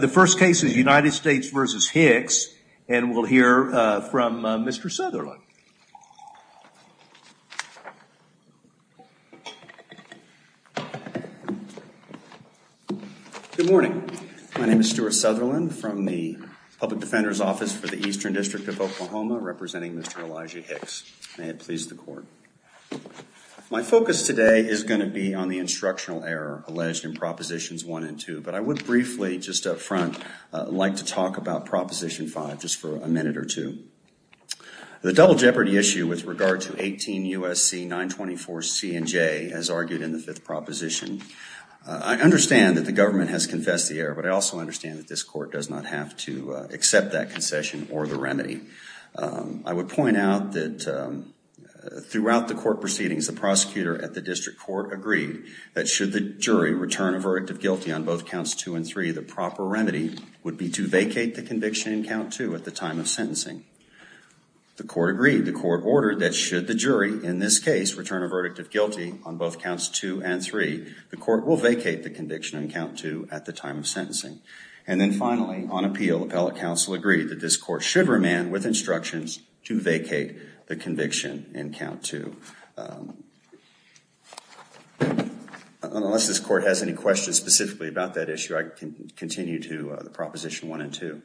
The first case is United States v. Hicks, and we'll hear from Mr. Southerland. Good morning. My name is Stuart Southerland from the Public Defender's Office for the Eastern District of Oklahoma, representing Mr. Elijah Hicks. May it please the Court. My focus today is going to be on the instructional error alleged in Propositions 1 and 2, but I would briefly, just up front, like to talk about Proposition 5 just for a minute or two. The double jeopardy issue with regard to 18 U.S.C. 924C&J, as argued in the fifth proposition, I understand that the government has confessed the error, but I also understand that this Court does not have to accept that concession or the remedy. I would point out that throughout the Court proceedings, the prosecutor at the District Court agreed that should the jury return a verdict of guilty on both Counts 2 and 3, the proper remedy would be to vacate the conviction in Count 2 at the time of sentencing. The Court agreed. The Court ordered that should the jury, in this case, return a verdict of guilty on both Counts 2 and 3, the Court will vacate the conviction in Count 2 at the time of sentencing. And then finally, on appeal, the appellate counsel agreed that this Court should remand with instructions to vacate the conviction in Count 2. Unless this Court has any questions specifically about that issue, I can continue to the Proposition 1 and 2.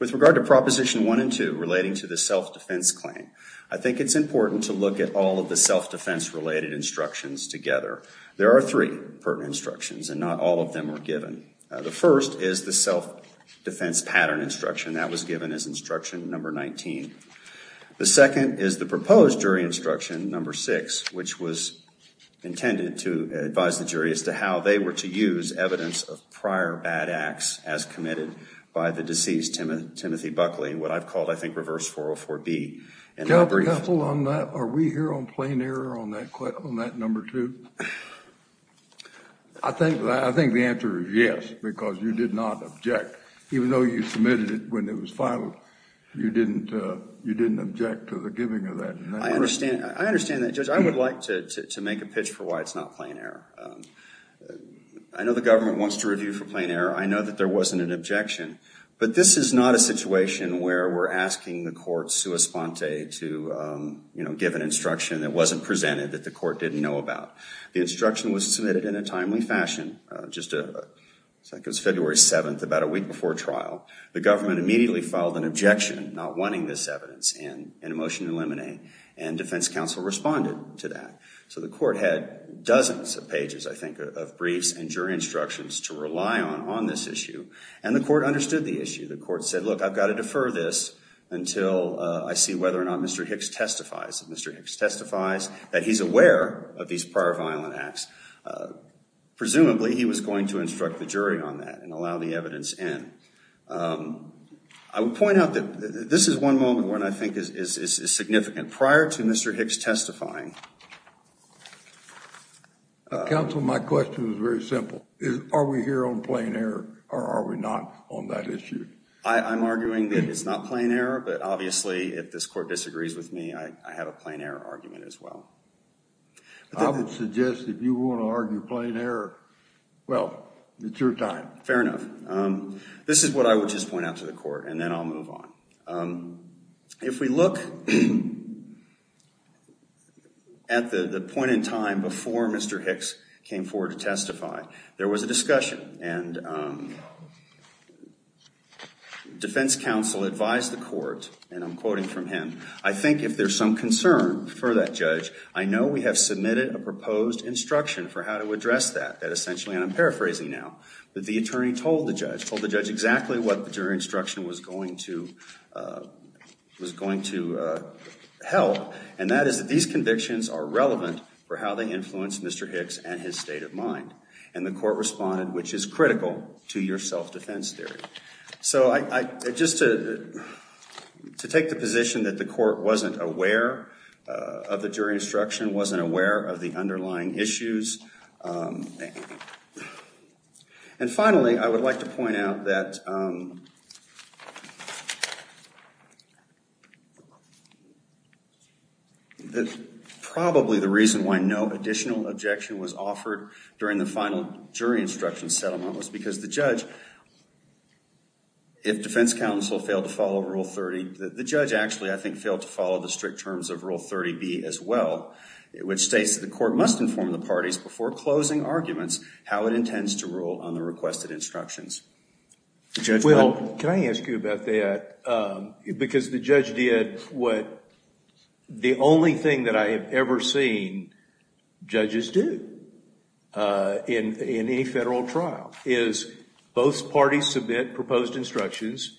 With regard to Proposition 1 and 2 relating to the self-defense claim, I think it's important to look at all of the self-defense related instructions together. There are three pertinent instructions and not all of them are given. The first is the self-defense pattern instruction that was given as Instruction Number 19. The second is the proposed jury instruction, Number 6, which was intended to advise the jury as to how they were to use evidence of prior bad acts as committed by the deceased Timothy Buckley, what I've called, I think, Reverse 404B. Are we here on plain error on that Number 2? I think the answer is yes, because you did not object, even though you submitted it when it was filed. You didn't object to the giving of that. I understand that, Judge. I would like to make a pitch for why it's not plain error. I know the government wants to review for plain error. I know that there wasn't an objection. But this is not a situation where we're asking the court, sua sponte, to give an instruction that wasn't presented that the court didn't know about. The instruction was submitted in a timely fashion. I think it was February 7th, about a week before trial. The government immediately filed an objection, not wanting this evidence in a motion to eliminate. And defense counsel responded to that. So the court had dozens of pages, I think, of briefs and jury instructions to rely on on this issue. And the court understood the issue. The court said, look, I've got to defer this until I see whether or not Mr. Hicks testifies. If Mr. Hicks testifies that he's aware of these prior violent acts, presumably he was going to instruct the jury on that and allow the evidence in. I would point out that this is one moment where I think is significant. Prior to Mr. Hicks testifying. Counsel, my question is very simple. Are we here on plain error or are we not on that issue? I'm arguing that it's not plain error. But obviously, if this court disagrees with me, I have a plain error argument as well. I would suggest if you want to argue plain error, well, it's your time. Fair enough. This is what I would just point out to the court and then I'll move on. If we look at the point in time before Mr. Hicks came forward to testify, there was a discussion and defense counsel advised the court, and I'm quoting from him, I think if there's some concern for that judge, I know we have submitted a proposed instruction for how to address that. That essentially, and I'm paraphrasing now, that the attorney told the judge, told the judge exactly what the jury instruction was going to help, and that is that these convictions are relevant for how they influence Mr. Hicks and his state of mind. And the court responded, which is critical to your self-defense theory. So just to take the position that the court wasn't aware of the jury instruction, wasn't aware of the underlying issues. And finally, I would like to point out that probably the reason why no additional objection was offered during the final jury instruction settlement was because the judge, if defense counsel failed to follow Rule 30, the judge actually, I think, failed to follow the strict terms of Rule 30B as well, which states that the court must inform the parties before closing arguments how it intends to rule on the requested instructions. The judge— Well, can I ask you about that? Because the judge did what the only thing that I have ever seen judges do in any federal trial, is both parties submit proposed instructions,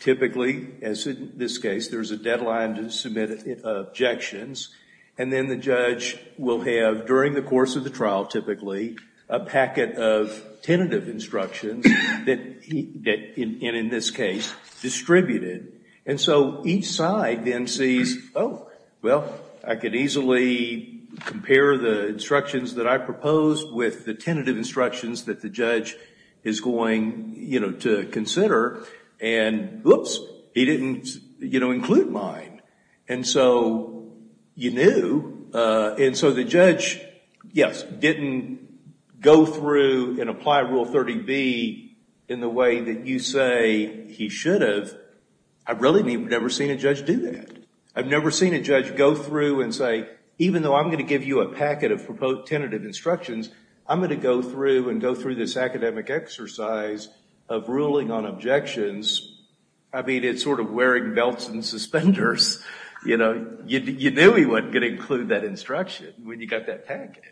typically, as in this case, there's a deadline to submit objections, and then the judge will have, during the course of the trial, typically, a packet of tentative instructions that, in this case, distributed. And so each side then sees, oh, well, I could easily compare the instructions that I proposed with the tentative instructions that the judge is going to consider, and whoops, he didn't include mine. And so you knew, and so the judge, yes, didn't go through and apply Rule 30B in the way that you say he should have. I've really never seen a judge do that. I've never seen a judge go through and say, even though I'm going to give you a packet of proposed tentative instructions, I'm going to go through and go through this academic exercise of ruling on objections. I mean, it's sort of wearing belts and suspenders. You knew he wasn't going to include that instruction when you got that packet.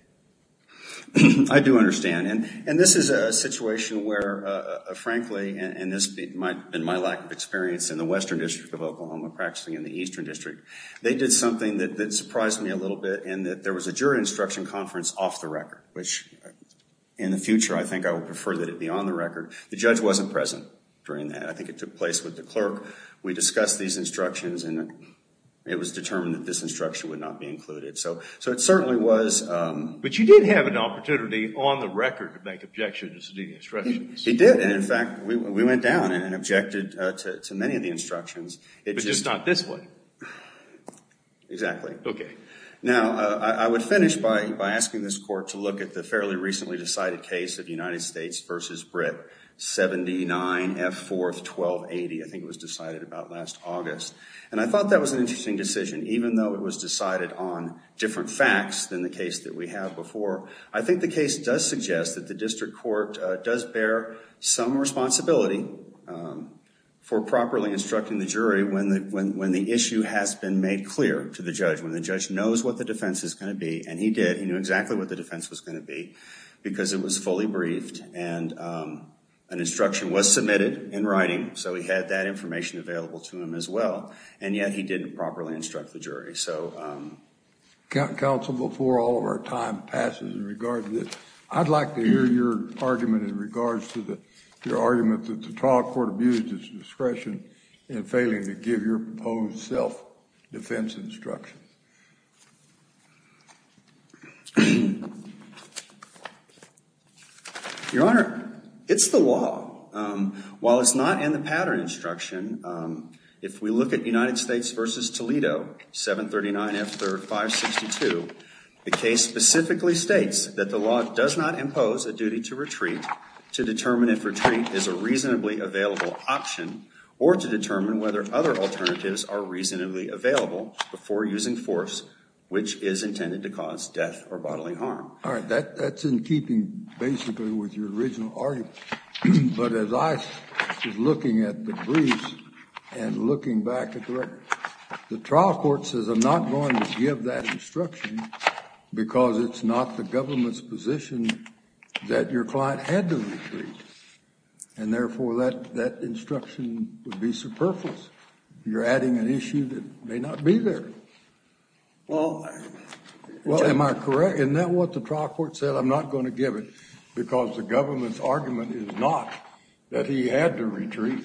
I do understand, and this is a situation where, frankly, and this might have been my lack of experience in the Western District of Oklahoma practicing in the Eastern District, they did something that surprised me a little bit in that there was a jury instruction conference off the record, which in the future, I think I would prefer that it be on the record. The judge wasn't present during that. I think it took place with the clerk. We discussed these instructions, and it was determined that this instruction would not be included. So it certainly was. But you did have an opportunity on the record to make objections to the instructions. He did. And in fact, we went down and objected to many of the instructions. But just not this way. Exactly. OK. Now, I would finish by asking this court to look at the fairly recently decided case of United States v. Britt, 79 F. 4th, 1280. I think it was decided about last August. And I thought that was an interesting decision. Even though it was decided on different facts than the case that we have before, I think the case does suggest that the district court does bear some responsibility for properly instructing the jury when the issue has been made clear to the judge, when the judge knows what the defense is going to be. And he did. He knew exactly what the defense was going to be, because it was fully briefed. And an instruction was submitted in writing. So he had that information available to him as well. And yet, he didn't properly instruct the jury. So counsel, before all of our time passes in regard to this, I'd like to hear your argument in regards to your argument that the trial court abused its discretion in failing to give your proposed self-defense instruction. Your Honor, it's the law. While it's not in the pattern instruction, if we look at United States v. Toledo, 739 F. 3rd, 562, the case specifically states that the law does not impose a duty to retreat to determine if retreat is a reasonably available option or to determine whether other alternatives are reasonably available before using force, which is intended to cause death or bodily harm. All right. That's in keeping, basically, with your original argument. But as I was looking at the briefs and looking back at the record, the trial court says I'm not going to give that instruction, because it's not the government's position that your client had to retreat. And therefore, that instruction would be superfluous. You're adding an issue that may not be there. Well, am I correct? Isn't that what the trial court said? I'm not going to give it, because the government's argument is not that he had to retreat.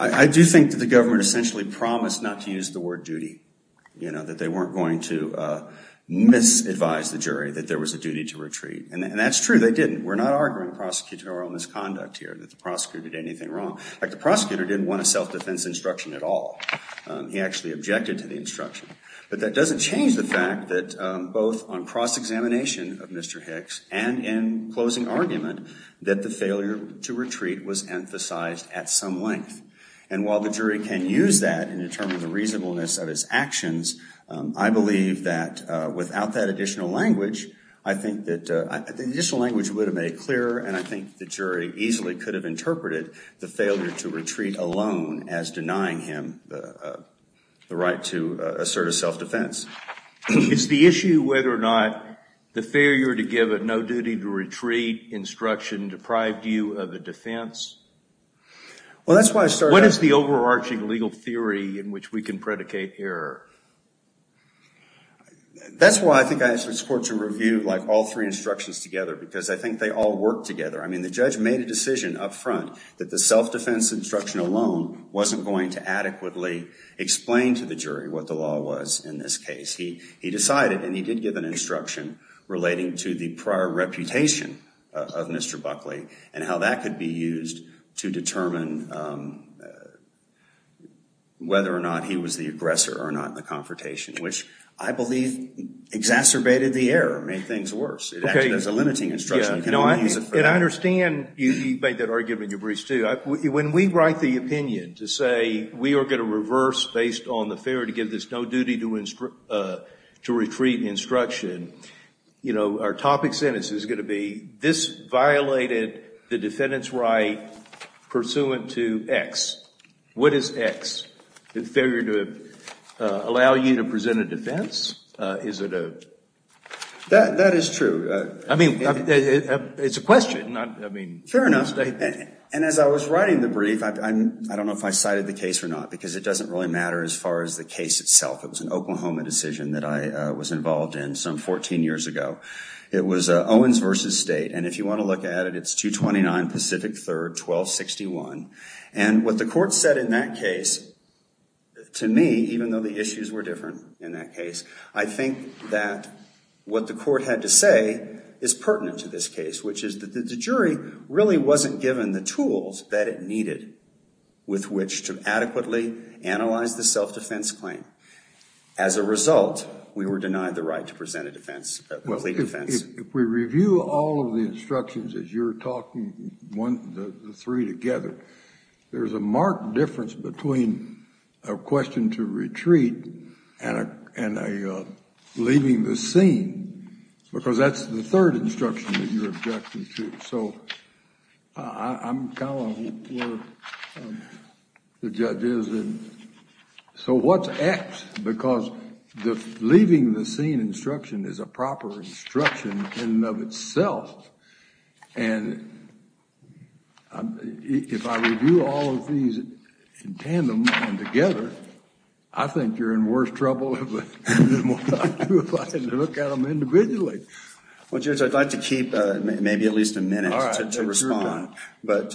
I do think that the government essentially promised not to use the word duty, that they weren't going to misadvise the jury that there was a duty to retreat. And that's true. They didn't. We're not arguing prosecutorial misconduct here, that the prosecutor did anything wrong. The prosecutor didn't want a self-defense instruction at all. He actually objected to the instruction. But that doesn't change the fact that both on cross-examination of Mr. Hicks and in closing argument, that the failure to retreat was emphasized at some length. And while the jury can use that in determining the reasonableness of his actions, I believe that without that additional language, I think that the additional language would have made it clearer, and I think the jury easily could have interpreted the failure to retreat alone as denying him the right to assert a self-defense. Is the issue whether or not the failure to give a no-duty-to-retreat instruction deprived you of the defense? Well, that's why I started— What is the overarching legal theory in which we can predicate error? That's why I think I support to review all three instructions together, because I think they all work together. I mean, the judge made a decision up front that the self-defense instruction alone wasn't going to adequately explain to the jury what the law was in this case. He decided, and he did give an instruction relating to the prior reputation of Mr. Buckley and how that could be used to determine whether or not he was the aggressor or not in the confrontation, which I believe exacerbated the error, made things worse. It acted as a limiting instruction. You can only use it for— And I understand you made that argument in your briefs, too. When we write the opinion to say we are going to reverse based on the failure to give this no-duty-to-retreat instruction, our topic sentence is going to be, this violated the defendant's right pursuant to X. What is X? The failure to allow you to present a defense? Is it a— That is true. I mean, it's a question, not— Fair enough. And as I was writing the brief, I don't know if I cited the case or not, because it doesn't really matter as far as the case itself. It was an Oklahoma decision that I was involved in some 14 years ago. It was Owens v. State, and if you want to look at it, it's 229 Pacific 3rd, 1261. And what the court said in that case, to me, even though the issues were different in that what the court had to say is pertinent to this case, which is that the jury really wasn't given the tools that it needed with which to adequately analyze the self-defense claim. As a result, we were denied the right to present a defense, a complete defense. If we review all of the instructions as you're talking, the three together, there's a marked difference between a question to retreat and a leaving the scene, because that's the third instruction that you're objecting to. So I'm kind of where the judge is. So what's X? Because the leaving the scene instruction is a proper instruction in and of itself. And if I review all of these in tandem and together, I think you're in worse trouble than what I do if I had to look at them individually. Well, Judge, I'd like to keep maybe at least a minute to respond, but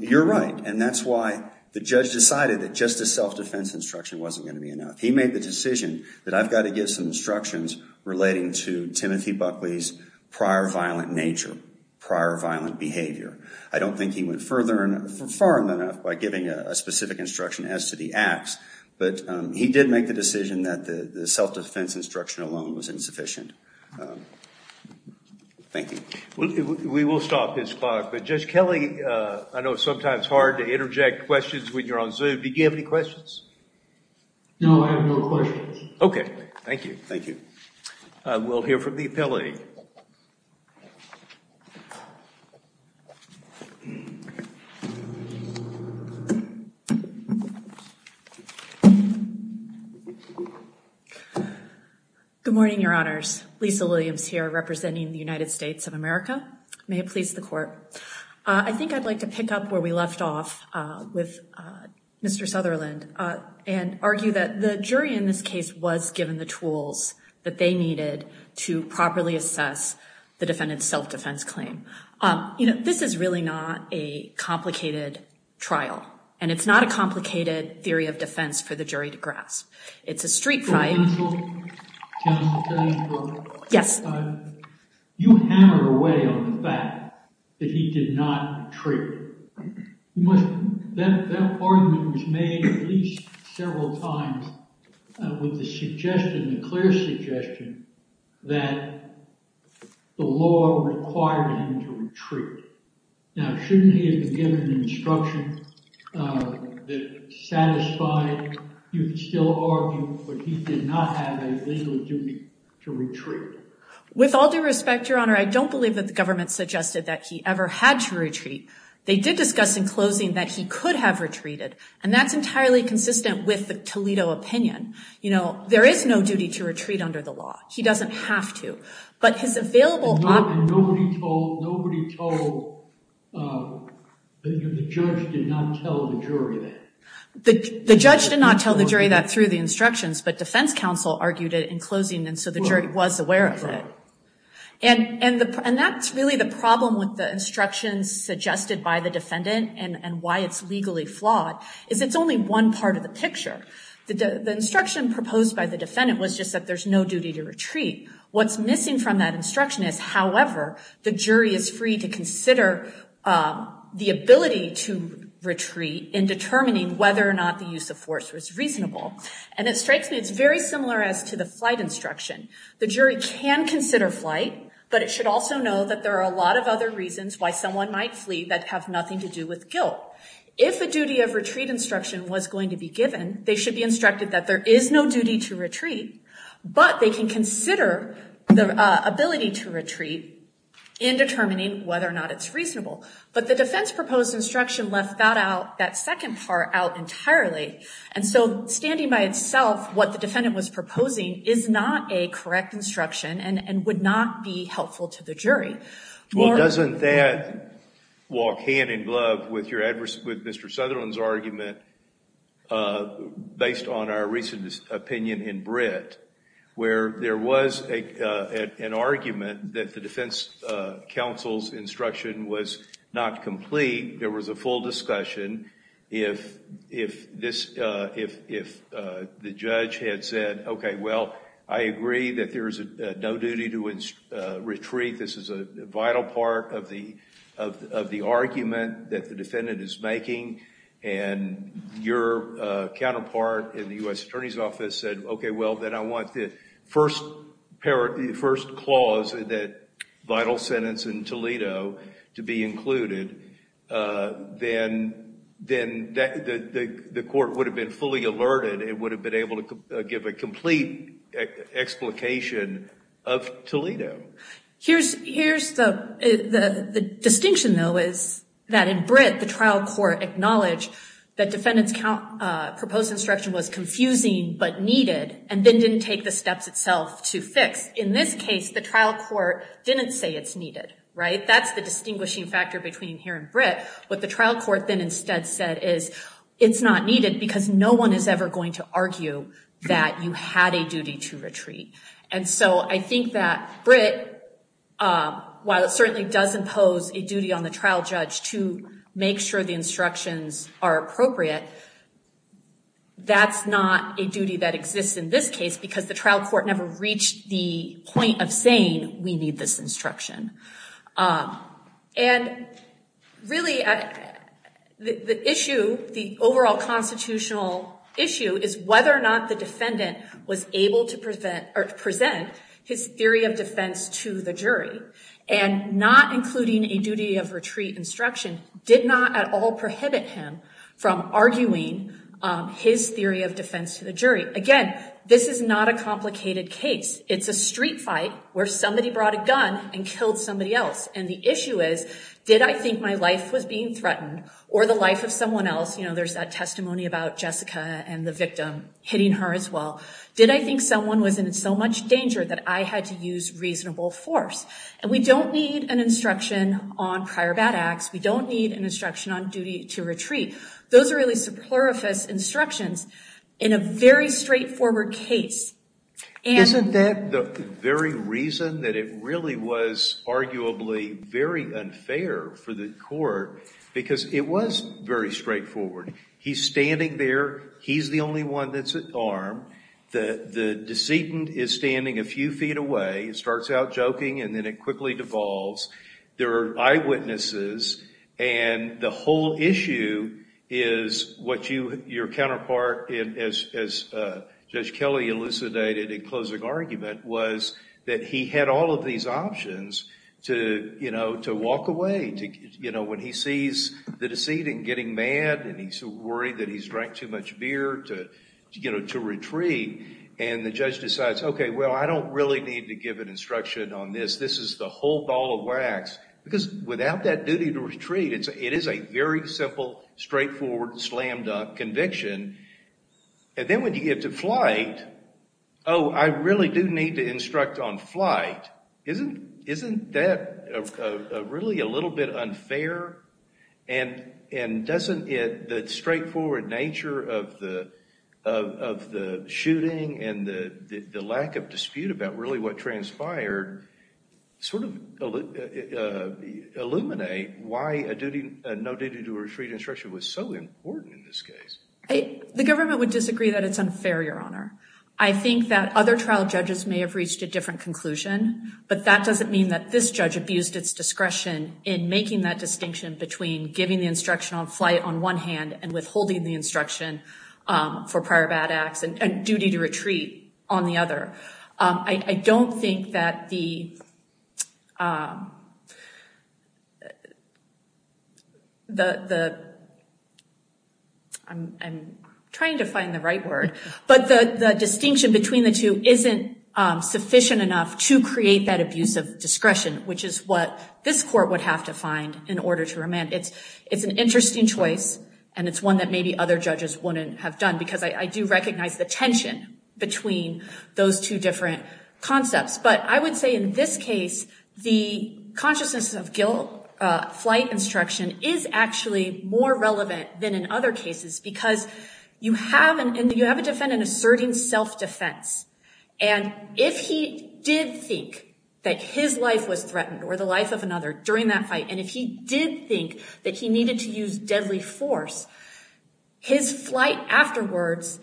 you're right. And that's why the judge decided that just a self-defense instruction wasn't going to be enough. He made the decision that I've got to get some instructions relating to Timothy Buckley's prior violent nature, prior violent behavior. I don't think he went further and far enough by giving a specific instruction as to the acts, but he did make the decision that the self-defense instruction alone was insufficient. Thank you. We will stop this clock, but Judge Kelly, I know it's sometimes hard to interject questions when you're on Zoom. Do you have any questions? No, I have no questions. Okay. Thank you. Thank you. We'll hear from the appellate. Good morning, Your Honors. Lisa Williams here representing the United States of America. May it please the Court. I think I'd like to pick up where we left off with Mr. Sutherland and argue that the jury needed to properly assess the defendant's self-defense claim. This is really not a complicated trial, and it's not a complicated theory of defense for the jury to grasp. It's a street fight. Counsel? Counsel Kelly? Yes. You hammered away on the fact that he did not treat. That argument was made at least several times with the clear suggestion that the law required him to retreat. Now, shouldn't he have been given an instruction that satisfied, you could still argue, but he did not have a legal duty to retreat. With all due respect, Your Honor, I don't believe that the government suggested that he ever had to retreat. They did discuss in closing that he could have retreated, and that's entirely consistent with the Toledo opinion. You know, there is no duty to retreat under the law. He doesn't have to. But his available— And nobody told the judge did not tell the jury that. The judge did not tell the jury that through the instructions, but defense counsel argued it in closing, and so the jury was aware of it. And that's really the problem with the instructions suggested by the defendant and why it's legally flawed, is it's only one part of the picture. The instruction proposed by the defendant was just that there's no duty to retreat. What's missing from that instruction is, however, the jury is free to consider the ability to retreat in determining whether or not the use of force was reasonable. And it strikes me it's very similar as to the flight instruction. The jury can consider flight, but it should also know that there are a lot of other reasons why someone might flee that have nothing to do with guilt. If a duty of retreat instruction was going to be given, they should be instructed that there is no duty to retreat, but they can consider the ability to retreat in determining whether or not it's reasonable. But the defense-proposed instruction left that out, that second part out entirely, and so standing by itself, what the defendant was proposing is not a correct instruction and would not be helpful to the jury. Well, doesn't that walk hand in glove with Mr. Sutherland's argument based on our recent opinion in Brit, where there was an argument that the defense counsel's instruction was not complete, there was a full discussion, if the judge had said, okay, well, I agree that there is no duty to retreat, this is a vital part of the argument that the defendant is making, and your counterpart in the U.S. Attorney's Office said, okay, well, then I that vital sentence in Toledo to be included, then the court would have been fully alerted and would have been able to give a complete explication of Toledo. Here's the distinction, though, is that in Brit, the trial court acknowledged that defendant's proposed instruction was confusing but needed and then didn't take the steps itself to fix. In this case, the trial court didn't say it's needed, right? That's the distinguishing factor between here and Brit. What the trial court then instead said is it's not needed because no one is ever going to argue that you had a duty to retreat. And so I think that Brit, while it certainly does impose a duty on the trial judge to make sure the instructions are appropriate, that's not a duty that exists in this case because the trial court never reached the point of saying we need this instruction. And really, the issue, the overall constitutional issue is whether or not the defendant was able to present his theory of defense to the jury and not including a duty of retreat instruction did not at all prohibit him from arguing his theory of defense to the jury. Again, this is not a complicated case. It's a street fight where somebody brought a gun and killed somebody else. And the issue is, did I think my life was being threatened or the life of someone else? You know, there's that testimony about Jessica and the victim hitting her as well. Did I think someone was in so much danger that I had to use reasonable force? And we don't need an instruction on prior bad acts. We don't need an instruction on duty to retreat. Those are really superfluous instructions in a very straightforward case. Isn't that the very reason that it really was arguably very unfair for the court? Because it was very straightforward. He's standing there. He's the only one that's at arm. The decedent is standing a few feet away, starts out joking, and then it quickly devolves. There are eyewitnesses. And the whole issue is what your counterpart, as Judge Kelly elucidated in closing argument, was that he had all of these options to walk away. When he sees the decedent getting mad and he's worried that he's drank too much beer to retreat, and the judge decides, OK, well, I don't really need to give an instruction on this. This is the whole ball of wax. Because without that duty to retreat, it is a very simple, straightforward, slammed-up conviction. And then when you get to flight, oh, I really do need to instruct on flight. Isn't that really a little bit unfair? And doesn't the straightforward nature of the shooting and the lack of dispute about really what transpired sort of illuminate why a no-duty-to-retreat instruction was so important in this case? The government would disagree that it's unfair, Your Honor. I think that other trial judges may have reached a different conclusion, but that doesn't mean that this judge abused its discretion in making that distinction between giving the instruction on flight on one hand and withholding the instruction for prior bad acts and duty to retreat on the other. I don't think that the – I'm trying to find the right word. But the distinction between the two isn't sufficient enough to create that abuse of discretion, which is what this court would have to find in order to remand. It's an interesting choice, and it's one that maybe other judges wouldn't have done, because I do recognize the tension between those two different concepts. But I would say in this case, the consciousness of guilt, flight instruction, is actually more relevant than in other cases, because you have a defendant asserting self-defense. And if he did think that his life was threatened or the life of another during that fight, and if he did think that he needed to use deadly force, his flight afterwards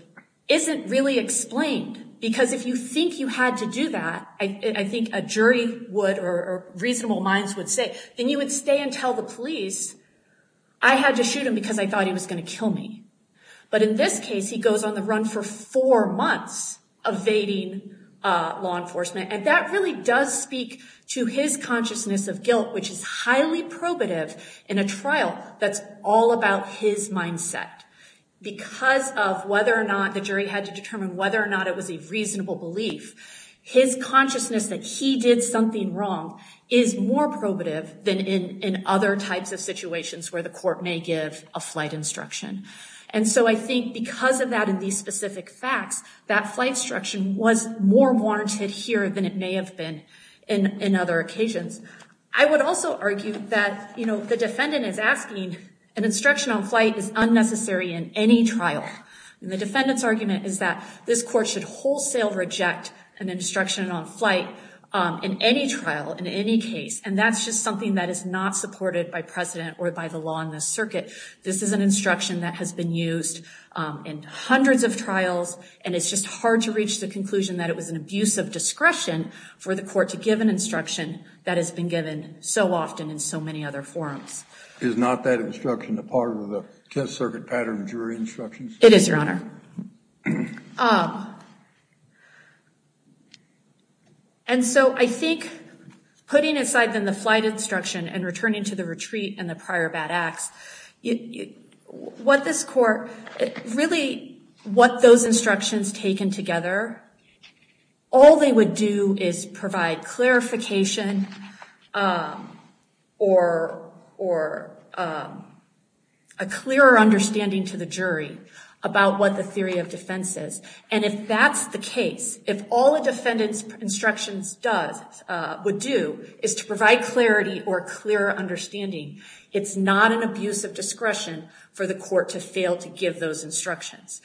isn't really explained, because if you think you had to do that, I think a jury would or reasonable minds would say, then you would stay and tell the police, I had to shoot him because I thought he was going to kill me. But in this case, he goes on the run for four months evading law enforcement. And that really does speak to his consciousness of guilt, which is highly probative in a trial that's all about his mindset. Because of whether or not the jury had to determine whether or not it was a reasonable belief, his consciousness that he did something wrong is more probative than in other types of situations where the court may give a flight instruction. And so I think because of that and these specific facts, that flight instruction was more warranted here than it may have been in other occasions. I would also argue that the defendant is asking, an instruction on flight is unnecessary in any trial. And the defendant's argument is that this court should wholesale reject an instruction on flight in any trial, in any case. And that's just something that is not supported by precedent or by the law in this circuit. This is an instruction that has been used in hundreds of trials, and it's just hard to reach the conclusion that it was an abuse of discretion for the court to give an instruction that has been given so often in so many other forums. Is not that instruction a part of the test circuit pattern of jury instructions? It is, Your Honor. And so I think putting aside then the flight instruction and returning to the retreat and the prior bad acts, what this court, really what those instructions taken together, all they would do is provide clarification or a clearer understanding to the jury about what the theory of defense is. And if that's the case, if all a defendant's instructions would do is to provide clarity or clearer understanding, it's not an abuse of discretion for the court to fail to give those instructions.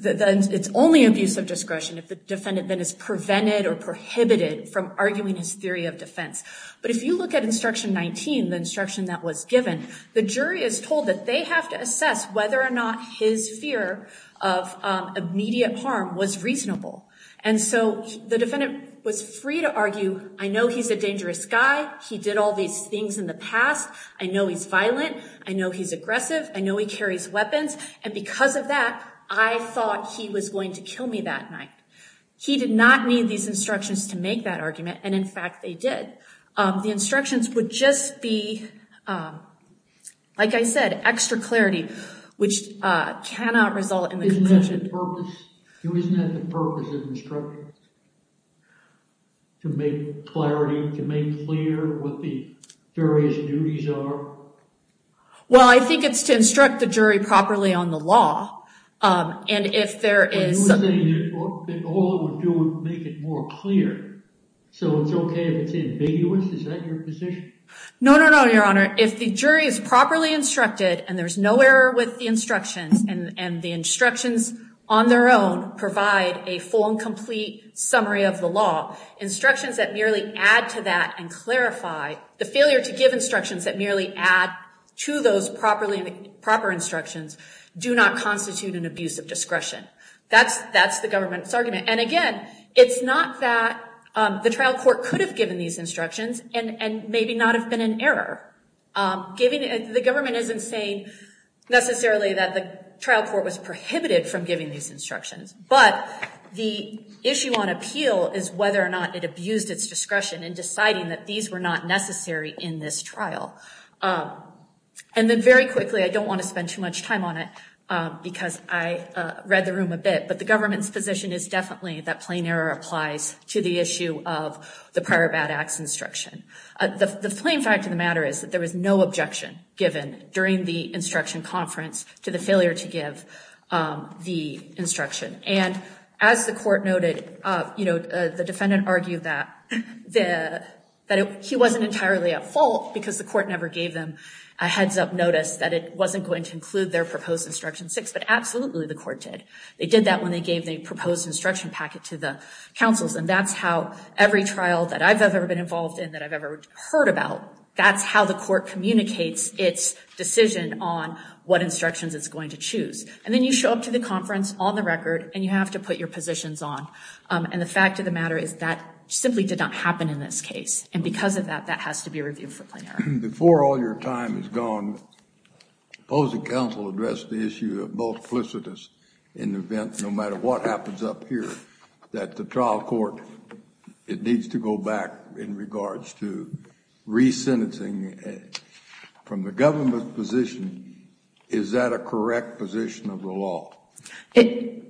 It's only abuse of discretion if the defendant then is prevented or prohibited from arguing his theory of defense. But if you look at instruction 19, the instruction that was given, the jury is told that they have to assess whether or not his fear of immediate harm was reasonable. And so the defendant was free to argue, I know he's a dangerous guy. He did all these things in the past. I know he's violent. I know he's aggressive. I know he carries weapons. And because of that, I thought he was going to kill me that night. He did not need these instructions to make that argument. And in fact, they did. The instructions would just be, like I said, extra clarity, which cannot result in the conviction. Isn't that the purpose? Isn't that the purpose of instructions? To make clarity, to make clear what the various duties are? Well, I think it's to instruct the jury properly on the law. And if there is... But you were saying that all it would do would make it more clear. So it's OK if it's ambiguous? Is that your position? No, no, no, Your Honor. If the jury is properly instructed and there's no error with the instructions, and the instructions on their own provide a full and complete summary of the law, instructions that merely add to that and clarify... The failure to give instructions that merely add to those proper instructions do not constitute an abuse of discretion. That's the government's argument. And again, it's not that the trial court could have given these instructions and maybe not have been in error. The government isn't saying necessarily that the trial court was prohibited from giving these instructions. But the issue on appeal is whether or not it abused its discretion in deciding that these were not necessary in this trial. And then very quickly, I don't want to spend too much time on it because I read the room a bit, but the government's position is definitely that plain error applies to the issue of the prior bad acts instruction. The plain fact of the matter is that there was no objection given during the instruction conference to the failure to give the instruction. And as the court noted, you know, the defendant argued that he wasn't entirely at fault because the court never gave them a heads-up notice that it wasn't going to include their proposed instruction six. But absolutely, the court did. They did that when they gave the proposed instruction packet to the counsels. And that's how every trial that I've ever been involved in, that I've ever heard about, that's how the court communicates its decision on what instructions it's going to choose. And then you show up to the conference on the record and you have to put your positions on. And the fact of the matter is that simply did not happen in this case. And because of that, that has to be reviewed for plain error. Before all your time is gone, the opposing counsel addressed the issue of multiplicitous in the event, no matter what happens up here, that the trial court, it needs to go back in regards to resentencing from the government's position. Is that a correct position of the law? You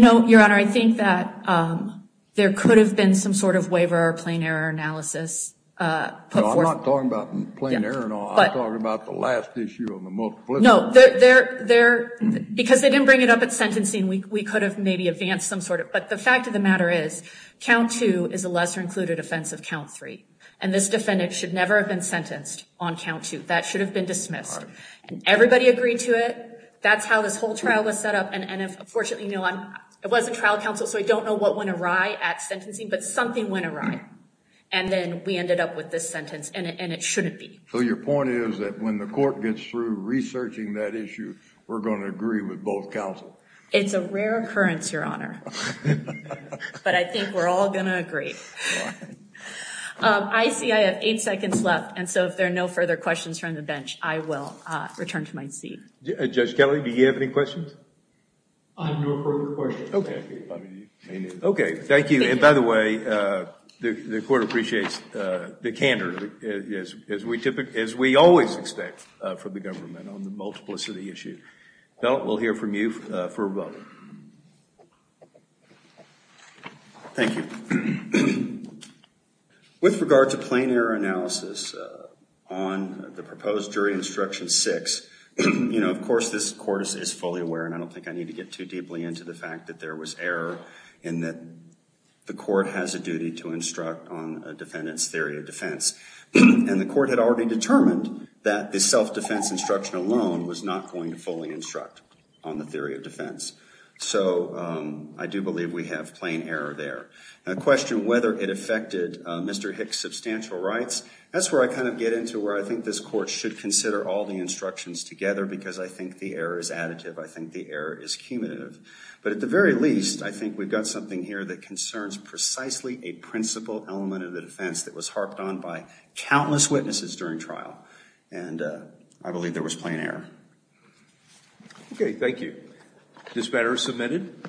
know, Your Honor, I think that there could have been some sort of waiver or plain error analysis. No, I'm not talking about plain error and all. I'm talking about the last issue of the multiplicitous. No, because they didn't bring it up at sentencing, we could have maybe advanced some sort of. But the fact of the matter is, count two is a lesser included offense of count three. And this defendant should never have been sentenced on count two. That should have been dismissed. And everybody agreed to it. That's how this whole trial was set up. And unfortunately, it wasn't trial counsel, so I don't know what went awry at sentencing. But something went awry. And then we ended up with this sentence, and it shouldn't be. So your point is that when the court gets through researching that issue, we're going to agree with both counsel. It's a rare occurrence, Your Honor. But I think we're all going to agree. I see I have eight seconds left. And so if there are no further questions from the bench, I will return to my seat. Judge Kelly, do you have any questions? I have no further questions. Okay. Okay, thank you. And by the way, the court appreciates the candor, as we always expect from the government on the multiplicity issue. Felt, we'll hear from you for a vote. Thank you. With regard to plain error analysis on the proposed jury instruction six, you know, of course, this court is fully aware. And I don't think I need to get too deeply into the fact that there was error in that the court has a duty to instruct on a defendant's theory of defense. And the court had already determined that the self-defense instruction alone was not going to fully instruct on the theory of defense. So I do believe we have plain error there. The question whether it affected Mr. Hicks' substantial rights, that's where I kind of get into where I think this court should consider all the instructions together, because I think the error is additive. I think the error is cumulative. But at the very least, I think we've got something here that concerns precisely a principal element of the defense that was harped on by countless witnesses during trial. And I believe there was plain error. Okay, thank you. This matter is submitted.